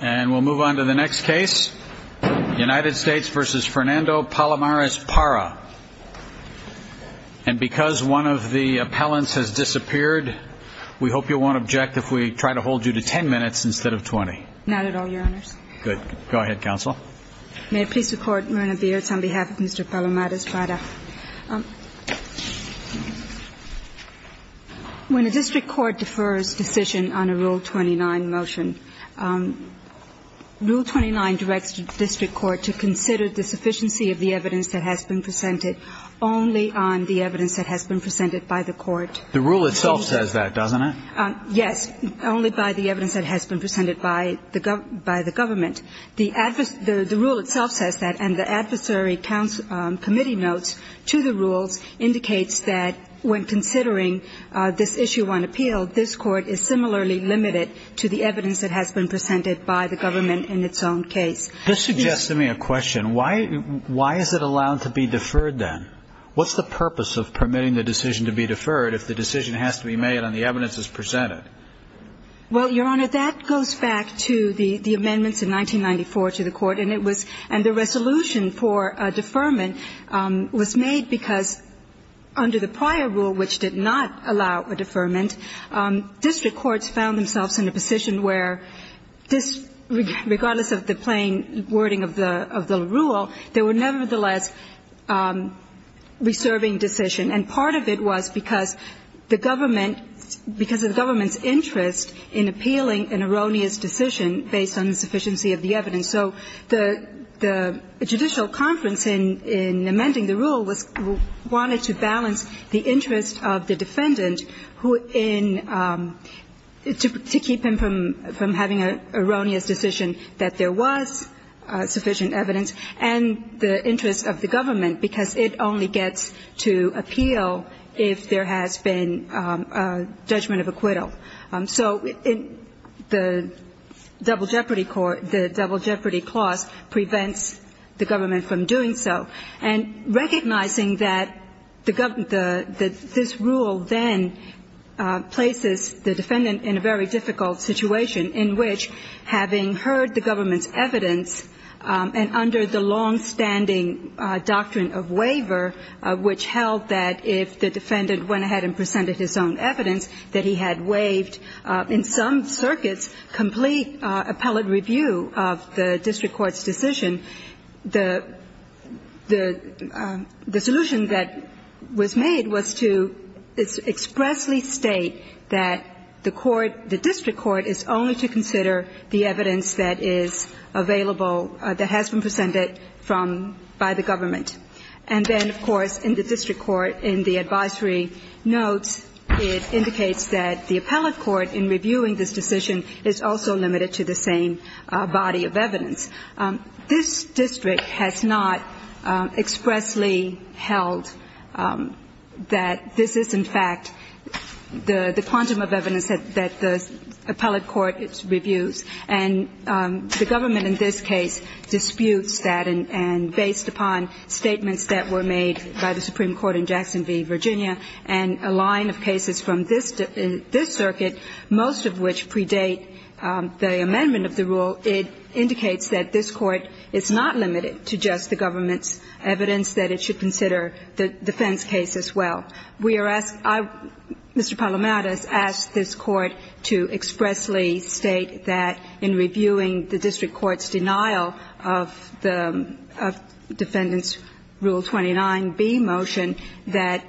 And we'll move on to the next case, United States v. Fernando Palomares-Parra. And because one of the appellants has disappeared, we hope you won't object if we try to hold you to 10 minutes instead of 20. Not at all, Your Honors. Good. Go ahead, Counsel. May I please record, Your Honor, the words on behalf of Mr. Palomares-Parra? When a district court defers decision on a Rule 29 motion, Rule 29 directs the district court to consider the sufficiency of the evidence that has been presented only on the evidence that has been presented by the court. The rule itself says that, doesn't it? Yes, only by the evidence that has been presented by the government. The rule itself says that, and the adversary committee notes to the rules indicates that when considering this issue on appeal, this court is similarly limited to the evidence that has been presented by the government in its own case. This suggests to me a question. Why is it allowed to be deferred, then? What's the purpose of permitting the decision to be deferred if the decision has to be made on the evidence that's presented? Well, Your Honor, that goes back to the amendments in 1994 to the Court. And it was – and the resolution for deferment was made because under the prior rule, which did not allow a deferment, district courts found themselves in a position where this – regardless of the plain wording of the rule, they were nevertheless reserving decision. And part of it was because the government – because of the government's interest in appealing an erroneous decision based on the sufficiency of the evidence. So the judicial conference in amending the rule was – wanted to balance the interest of the defendant who in – to keep him from having an erroneous decision that there was sufficient evidence and the interest of the government because it only gets to appeal if there has been judgment of acquittal. So the double jeopardy clause prevents the government from doing so. And recognizing that the – that this rule then places the defendant in a very difficult situation in which having heard the government's evidence and under the longstanding doctrine of waiver, which held that if the defendant went ahead and presented his own evidence, that he had waived in some circuits complete appellate review of the district court's decision, the – the solution that was made was to expressly state that the court – the district court is only to consider the evidence that is available – that has been presented from – by the government. And then, of course, in the district court, in the advisory notes, it indicates that the appellate court in reviewing this decision is also limited to the same body of evidence. This district has not expressly held that this is, in fact, the quantum of evidence that the appellate court reviews. And the government in this case disputes that. And based upon statements that were made by the Supreme Court in Jackson v. Virginia and a line of cases from this – this circuit, most of which predate the amendment of the rule, it indicates that this court is not limited to just the government's evidence, that it should consider the defense case as well. We are asked – Mr. Palamadas asked this court to expressly state that in reviewing the district court's denial of the defendant's Rule 29b motion that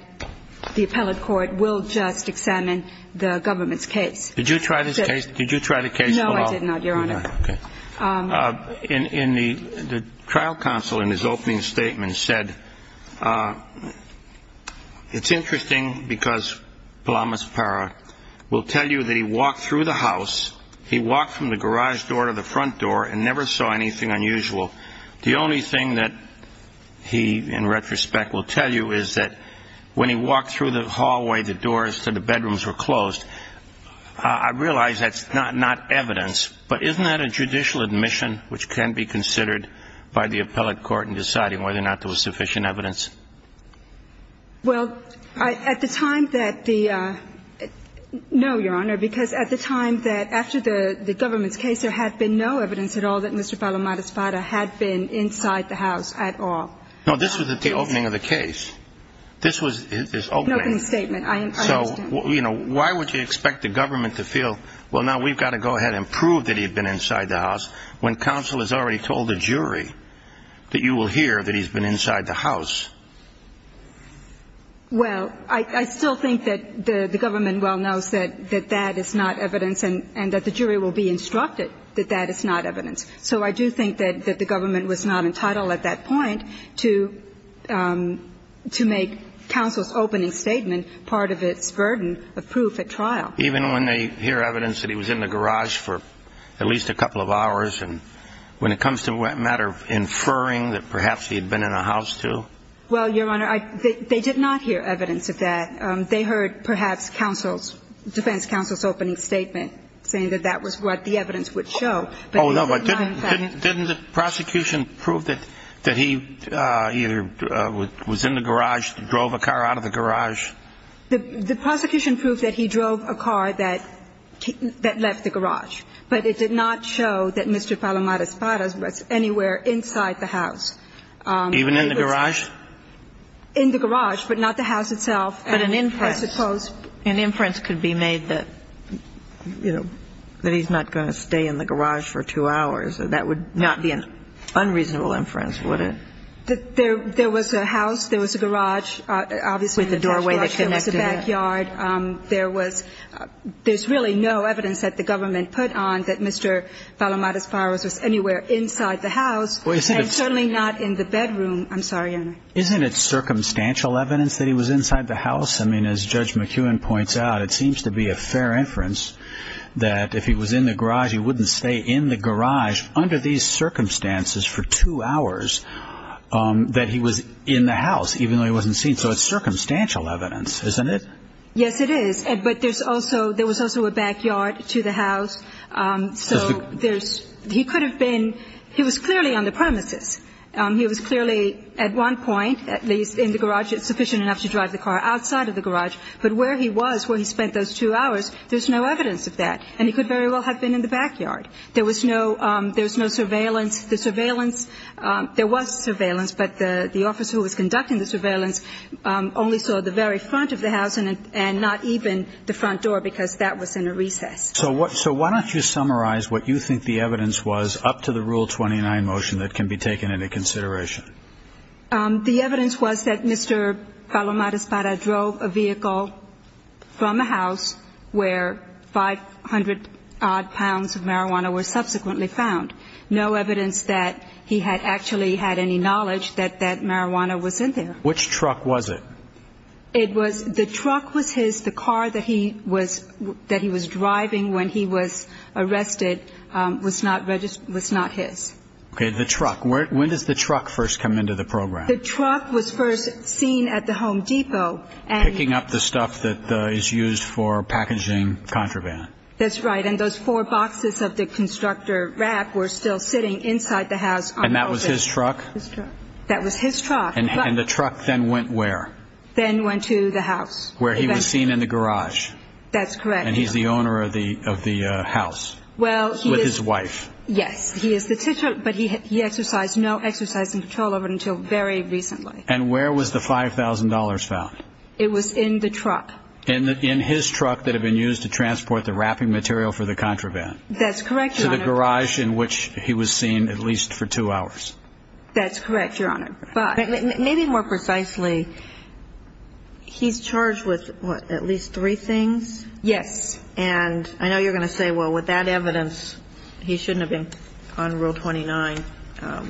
the appellate court will just examine the government's case. Did you try this case? Did you try the case at all? No, I did not, Your Honor. Okay. In the – the trial counsel in his opening statement said, it's interesting because Palamas Parra will tell you that he walked through the house, he walked from the garage door to the front door and never saw anything unusual. The only thing that he, in retrospect, will tell you is that when he walked through the hallway, the doors to the bedrooms were closed. I realize that's not evidence, but isn't that a judicial admission which can be considered by the appellate court in deciding whether or not there was sufficient evidence? Well, at the time that the – no, Your Honor, because at the time that, after the government's case, there had been no evidence at all that Mr. Palamadas Parra had been inside the house at all. No, this was at the opening of the case. This was his opening. His opening statement. I understand. So, you know, why would you expect the government to feel, well, now we've got to go ahead and prove that he'd been inside the house, when counsel has already told the jury that you will hear that he's been inside the house? Well, I still think that the government well knows that that is not evidence and that the jury will be instructed that that is not evidence. So I do think that the government was not entitled at that point to make counsel's opening statement part of its burden of proof at trial. Even when they hear evidence that he was in the garage for at least a couple of hours and when it comes to a matter of inferring that perhaps he had been in a house too? Well, Your Honor, they did not hear evidence of that. They heard perhaps counsel's – defense counsel's opening statement saying that that was what the evidence would show. Oh, no, but didn't the prosecution prove that he either was in the garage, drove a car out of the garage? The prosecution proved that he drove a car that left the garage, but it did not show that Mr. Palomar Espada was anywhere inside the house. Even in the garage? In the garage, but not the house itself. But an inference. I suppose. An inference could be made that, you know, that he's not going to stay in the garage for two hours. That would not be an unreasonable inference, would it? There was a house. There was a garage, obviously. With a doorway that connected it. There was a backyard. There was – there's really no evidence that the government put on that Mr. Palomar Espada was anywhere inside the house and certainly not in the bedroom. I'm sorry, Your Honor. Isn't it circumstantial evidence that he was inside the house? I mean, as Judge McEwen points out, it seems to be a fair inference that if he was in the garage, he wouldn't stay in the garage under these circumstances for two hours that he was in the house, even though he wasn't seen. So it's circumstantial evidence, isn't it? Yes, it is. But there's also – there was also a backyard to the house. So there's – he could have been – he was clearly on the premises. He was clearly, at one point, at least in the garage, sufficient enough to drive the car outside of the garage. But where he was, where he spent those two hours, there's no evidence of that. And he could very well have been in the backyard. There was no – there was no surveillance. The surveillance – there was surveillance, but the officer who was conducting the surveillance only saw the very front of the house and not even the front door because that was in a recess. So why don't you summarize what you think the evidence was up to the Rule 29 motion that can be taken into consideration? The evidence was that Mr. Palomar Espada drove a vehicle from a house where 500-odd pounds of marijuana were subsequently found. No evidence that he had actually had any knowledge that that marijuana was in there. Which truck was it? It was – the truck was his. The car that he was driving when he was arrested was not his. Okay, the truck. When does the truck first come into the program? The truck was first seen at the Home Depot. Picking up the stuff that is used for packaging contraband. That's right. And those four boxes of the constructor rack were still sitting inside the house. And that was his truck? His truck. That was his truck. And the truck then went where? Then went to the house. Where he was seen in the garage. That's correct. And he's the owner of the house with his wife. Yes, he is. But he exercised no exercising control over it until very recently. And where was the $5,000 found? It was in the truck. In his truck that had been used to transport the wrapping material for the contraband. That's correct, Your Honor. To the garage in which he was seen at least for two hours. That's correct, Your Honor. Maybe more precisely, he's charged with, what, at least three things? Yes. And I know you're going to say, well, with that evidence, he shouldn't have been on Rule 29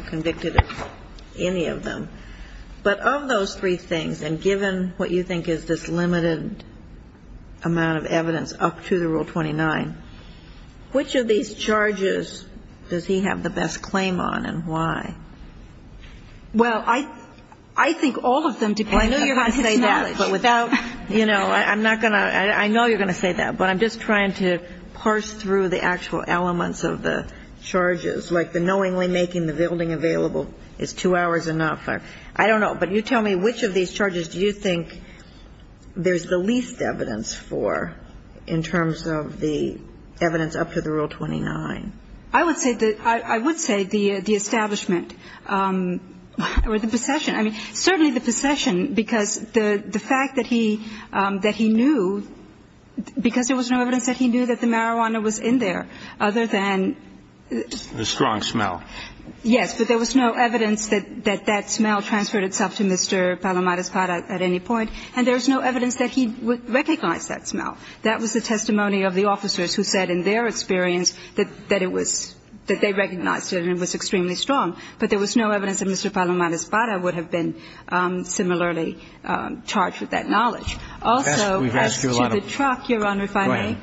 convicted of any of them. But of those three things, and given what you think is this limited amount of evidence up to the Rule 29, which of these charges does he have the best claim on and why? Well, I think all of them depend on his knowledge. But without, you know, I'm not going to – I know you're going to say that, but I'm just trying to parse through the actual elements of the charges. Like the knowingly making the building available is two hours enough. I don't know. But you tell me, which of these charges do you think there's the least evidence for in terms of the evidence up to the Rule 29? I would say the – I would say the establishment or the possession. I mean, certainly the possession, because the fact that he – that he knew, because there was no evidence that he knew that the marijuana was in there, other than – The strong smell. Yes. But there was no evidence that that smell transferred itself to Mr. Palomares-Para at any point. And there was no evidence that he would recognize that smell. That was the testimony of the officers who said in their experience that it was – that they recognized it and it was extremely strong. But there was no evidence that Mr. Palomares-Para would have been similarly charged with that knowledge. Also, as to the truck, Your Honor, if I may. Go ahead.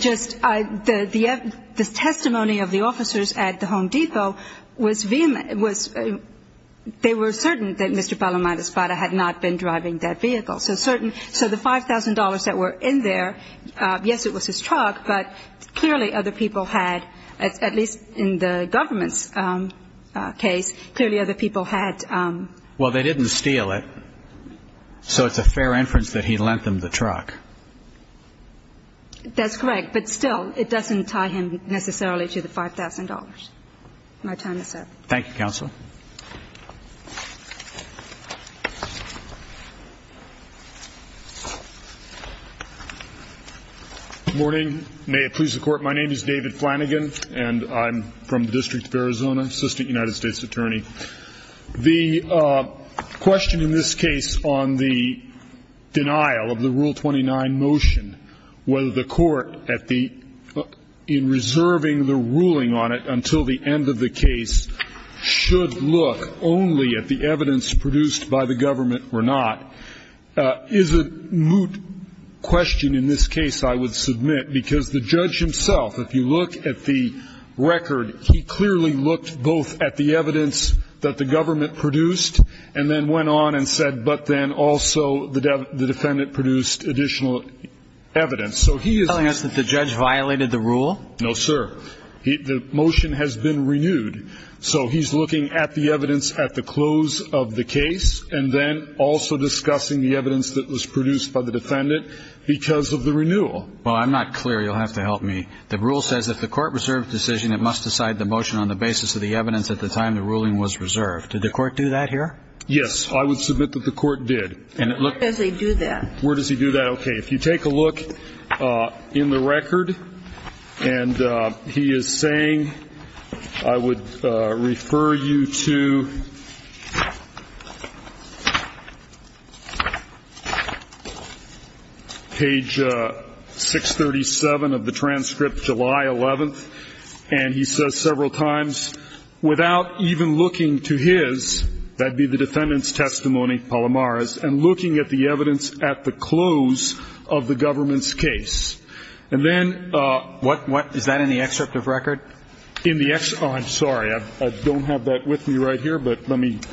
Just – the testimony of the officers at the Home Depot was – they were certain that Mr. Palomares-Para had not been driving that vehicle. So certain – so the $5,000 that were in there, yes, it was his truck, but clearly other people had – at least in the government's case, clearly other people had – Well, they didn't steal it, so it's a fair inference that he lent them the truck. That's correct. But still, it doesn't tie him necessarily to the $5,000. Thank you, Counsel. Good morning. May it please the Court. My name is David Flanagan, and I'm from the District of Arizona, Assistant United States Attorney. The question in this case on the denial of the Rule 29 motion, whether the Court at the – in reserving the ruling on it until the end of the case, should look only at the evidence produced by the government or not, is a moot question in this case, I would submit, because the judge himself, if you look at the record, he clearly looked both at the evidence that the government produced and then went on and said, but then also the defendant produced additional evidence. So he is – Are you telling us that the judge violated the rule? No, sir. The motion has been renewed, so he's looking at the evidence at the close of the case and then also discussing the evidence that was produced by the defendant because of the renewal. Well, I'm not clear. You'll have to help me. The rule says if the Court reserved the decision, it must decide the motion on the basis of the evidence at the time the ruling was reserved. Did the Court do that here? Yes. I would submit that the Court did. Where does he do that? Where does he do that? Okay. If you take a look in the record, and he is saying, I would refer you to page 637 of the transcript, July 11th. And he says several times, without even looking to his, that would be the defendant's testimony, Palomaro's, and looking at the evidence at the close of the government's case. And then – What? Is that in the excerpt of record? In the – oh, I'm sorry. I don't have that with me right here, but let me –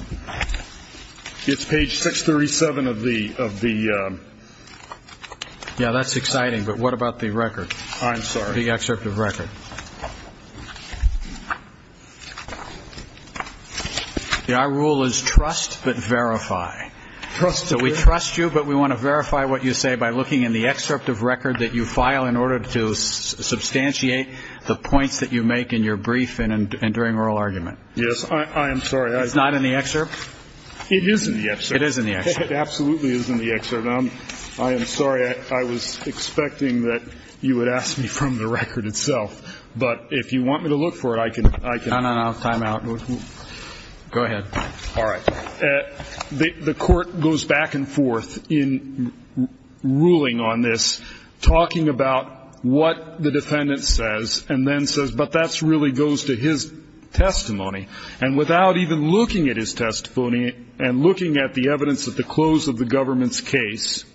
it's page 637 of the – of the – Yeah, that's exciting, but what about the record? I'm sorry. The excerpt of record. Our rule is trust, but verify. Okay. So we trust you, but we want to verify what you say by looking in the excerpt of record that you file in order to substantiate the points that you make in your brief and during oral argument. Yes. I am sorry. It's not in the excerpt? It is in the excerpt. It is in the excerpt. It absolutely is in the excerpt. I am sorry. I was expecting that you would ask me from the record itself. But if you want me to look for it, I can – No, no, no. Time out. Go ahead. All right. The Court goes back and forth in ruling on this, talking about what the defendant says and then says, but that really goes to his testimony. And without even looking at his testimony and looking at the evidence at the close of the government's case,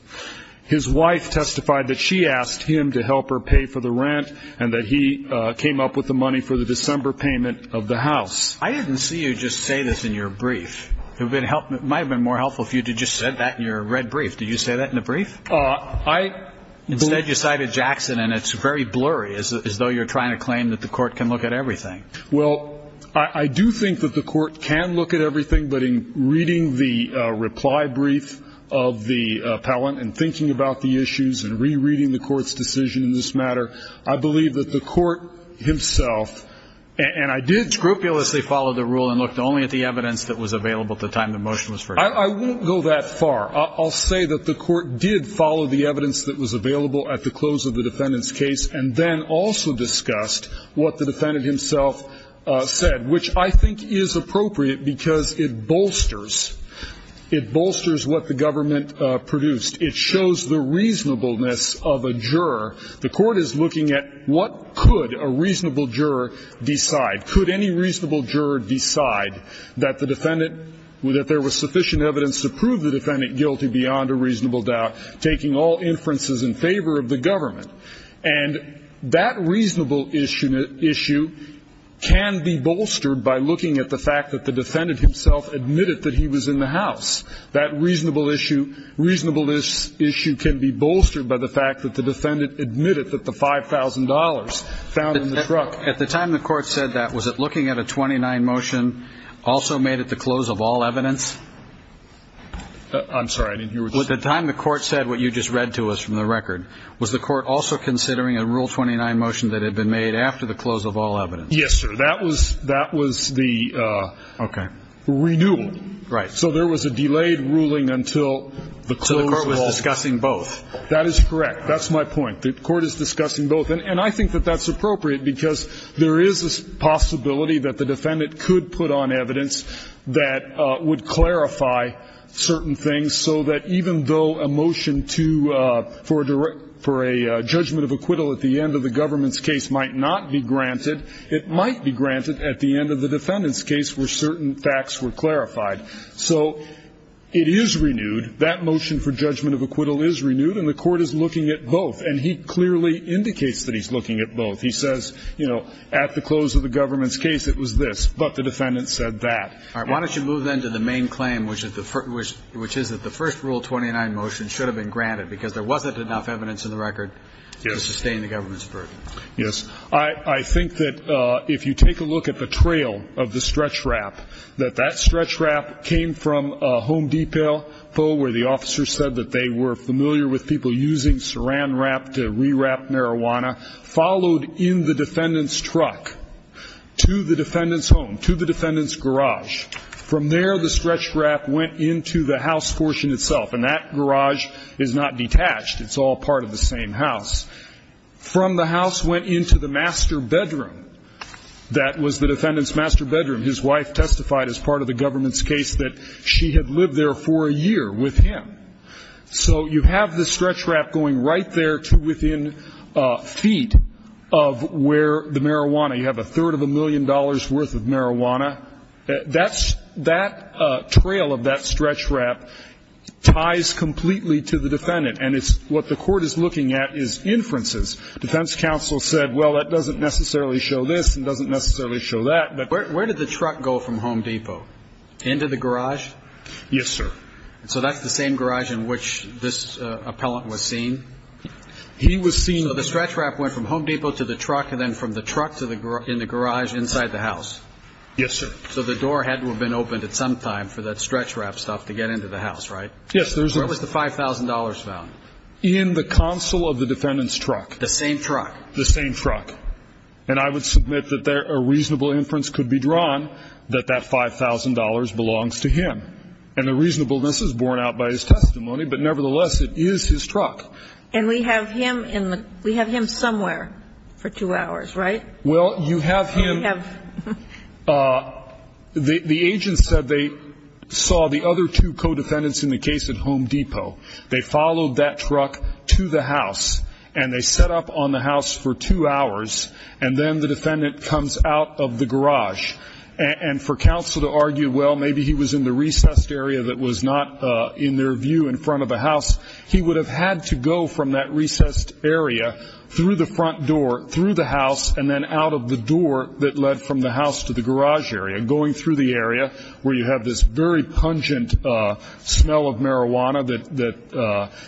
his wife testified that she asked him to help her pay for the rent and that he came up with the money for the December payment of the house. I didn't see you just say this in your brief. It might have been more helpful for you to just say that in your red brief. Did you say that in the brief? Instead, you cited Jackson, and it's very blurry, as though you're trying to claim that the Court can look at everything. Well, I do think that the Court can look at everything, but in reading the reply brief of the appellant and thinking about the issues and rereading the Court's decision in this matter, I believe that the Court himself, and I did scrupulously follow the rule and looked only at the evidence that was available at the time the motion was first passed. I won't go that far. I'll say that the Court did follow the evidence that was available at the close of the defendant's case and then also discussed what the defendant himself said, which I think is appropriate because it bolsters. It bolsters what the government produced. It shows the reasonableness of a juror. The Court is looking at what could a reasonable juror decide. Could any reasonable juror decide that the defendant, that there was sufficient evidence to prove the defendant guilty beyond a reasonable doubt, taking all inferences in favor of the government? And that reasonable issue can be bolstered by looking at the fact that the defendant himself admitted that he was in the house. That reasonable issue can be bolstered by the fact that the defendant admitted that the $5,000 found in the truck. At the time the Court said that, was it looking at a 29 motion also made at the close of all evidence? I'm sorry. At the time the Court said what you just read to us from the record, was the Court also considering a Rule 29 motion that had been made after the close of all evidence? Yes, sir. That was the renewal. Right. So there was a delayed ruling until the close of all. So the Court was discussing both. That is correct. That's my point. The Court is discussing both. And I think that that's appropriate because there is a possibility that the defendant could put on evidence that would clarify certain things so that even though a motion to for a judgment of acquittal at the end of the government's case might not be granted, it might be granted at the end of the defendant's case where certain facts were clarified. So it is renewed. That motion for judgment of acquittal is renewed, and the Court is looking at both. And he clearly indicates that he's looking at both. He says, you know, at the close of the government's case it was this, but the defendant said that. All right. Why don't you move then to the main claim, which is that the first Rule 29 motion should have been granted because there wasn't enough evidence in the record to sustain the government's burden. Yes. I think that if you take a look at the trail of the stretch wrap, that that stretch wrap came from a home depot where the officer said that they were familiar with people using saran wrap to rewrap marijuana, followed in the defendant's truck to the defendant's home, to the defendant's garage. From there, the stretch wrap went into the house portion itself. And that garage is not detached. It's all part of the same house. From the house went into the master bedroom. That was the defendant's master bedroom. His wife testified as part of the government's case that she had lived there for a year with him. So you have the stretch wrap going right there to within feet of where the marijuana you have a third of a million dollars' worth of marijuana. That's that trail of that stretch wrap ties completely to the defendant. And it's what the court is looking at is inferences. Defense counsel said, well, that doesn't necessarily show this and doesn't necessarily show that. But where did the truck go from Home Depot? Into the garage? Yes, sir. So that's the same garage in which this appellant was seen? He was seen. So the stretch wrap went from Home Depot to the truck and then from the truck to the garage inside the house? Yes, sir. So the door had to have been opened at some time for that stretch wrap stuff to get into the house, right? Yes. Where was the $5,000 found? In the counsel of the defendant's truck. The same truck? The same truck. And I would submit that a reasonable inference could be drawn that that $5,000 belongs to him. And the reasonableness is borne out by his testimony, but nevertheless, it is his truck. And we have him in the we have him somewhere for two hours, right? Well, you have him. We have. The agent said they saw the other two co-defendants in the case at Home Depot. They followed that truck to the house, and they set up on the house for two hours, and then the defendant comes out of the garage. And for counsel to argue, well, maybe he was in the recessed area that was not in their view in front of the house, he would have had to go from that recessed area through the front door, through the house, and then out of the door that led from the house to the garage area, going through the area where you have this very pungent smell of marijuana that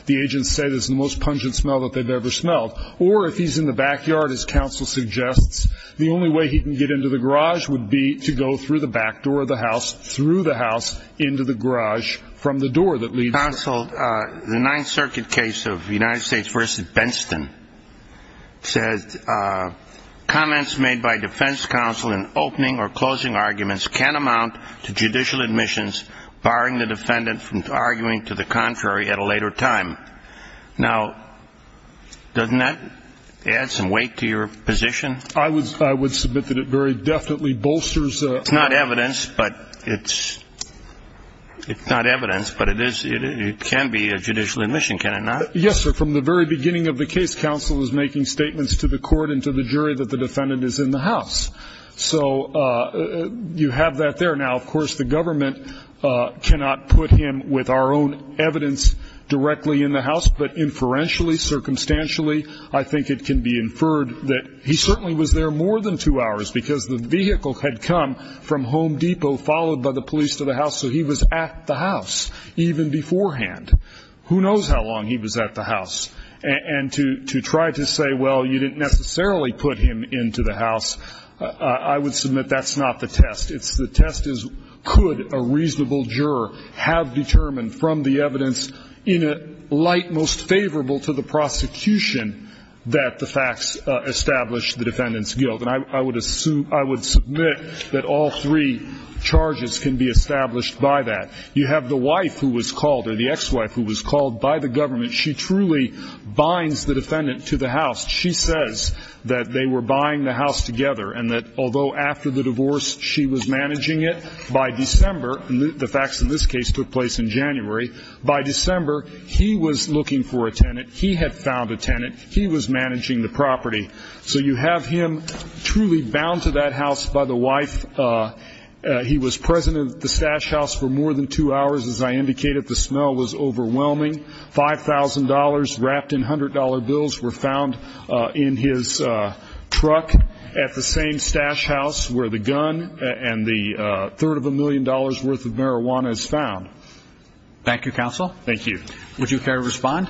the agents say is the most pungent smell that they've ever smelled. Or if he's in the backyard, as counsel suggests, the only way he can get into the garage would be to go through the back door of the house, through the house, into the garage from the door that leads to the garage. Well, the Ninth Circuit case of United States v. Benston says, comments made by defense counsel in opening or closing arguments can amount to judicial admissions, barring the defendant from arguing to the contrary at a later time. Now, doesn't that add some weight to your position? I would submit that it very definitely bolsters. It's not evidence, but it's not evidence, but it can be a judicial admission, can it not? Yes, sir. From the very beginning of the case, counsel is making statements to the court and to the jury that the defendant is in the house. So you have that there. Now, of course, the government cannot put him with our own evidence directly in the house, but inferentially, circumstantially, I think it can be inferred that he certainly was there more than two hours because the vehicle had come from Home Depot, followed by the police to the house, so he was at the house even beforehand. Who knows how long he was at the house? And to try to say, well, you didn't necessarily put him into the house, I would submit that's not the test. The test is could a reasonable juror have determined from the evidence, in a light most favorable to the prosecution, that the facts establish the defendant's guilt? And I would assume, I would submit that all three charges can be established by that. You have the wife who was called, or the ex-wife who was called by the government. She truly binds the defendant to the house. She says that they were buying the house together, and that although after the divorce she was managing it, by December, the facts in this case took place in January, by December he was looking for a tenant, he had found a tenant, he was managing the property. So you have him truly bound to that house by the wife. He was present at the stash house for more than two hours. As I indicated, the smell was overwhelming. $5,000 wrapped in $100 bills were found in his truck at the same stash house where the gun and the third of a million dollars' worth of marijuana is found. Thank you, counsel. Thank you. Would you care to respond?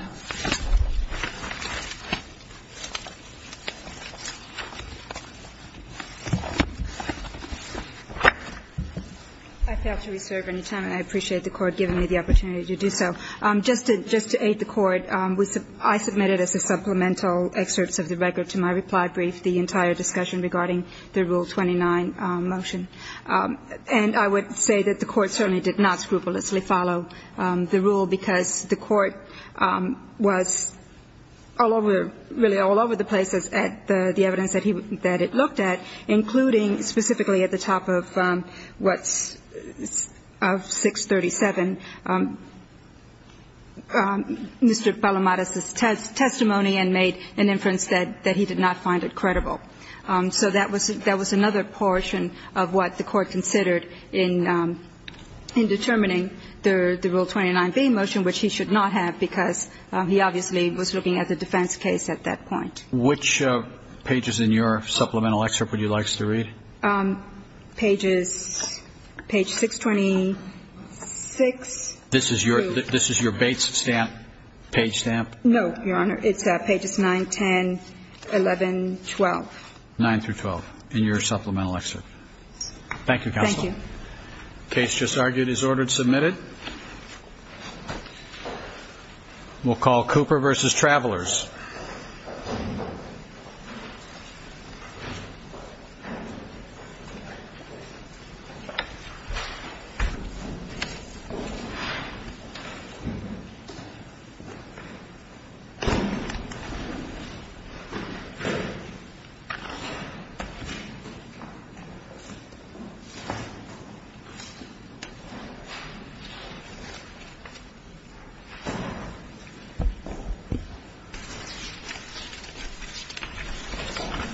I fail to reserve any time, and I appreciate the Court giving me the opportunity to do so. Just to aid the Court, I submitted as a supplemental excerpt of the record to my reply brief the entire discussion regarding the Rule 29 motion. And I would say that the Court certainly did not scrupulously follow the rule because the Court was all over, really all over the places at the evidence that it looked at, including specifically at the top of what's, of 637, Mr. Palamadas' testimony and made an inference that he did not find it credible. So that was another portion of what the Court considered in determining the Rule 29B motion. And I would say that the Court did not follow the Rule 29 motion, which he should not have because he obviously was looking at the defense case at that point. Which pages in your supplemental excerpt would you like us to read? Pages, page 626. This is your Bates stamp, page stamp? No, Your Honor. It's pages 9, 10, 11, 12. 9 through 12 in your supplemental excerpt. Thank you, Counsel. Thank you. The case just argued is ordered submitted. We'll call Cooper v. Travelers. Thank you.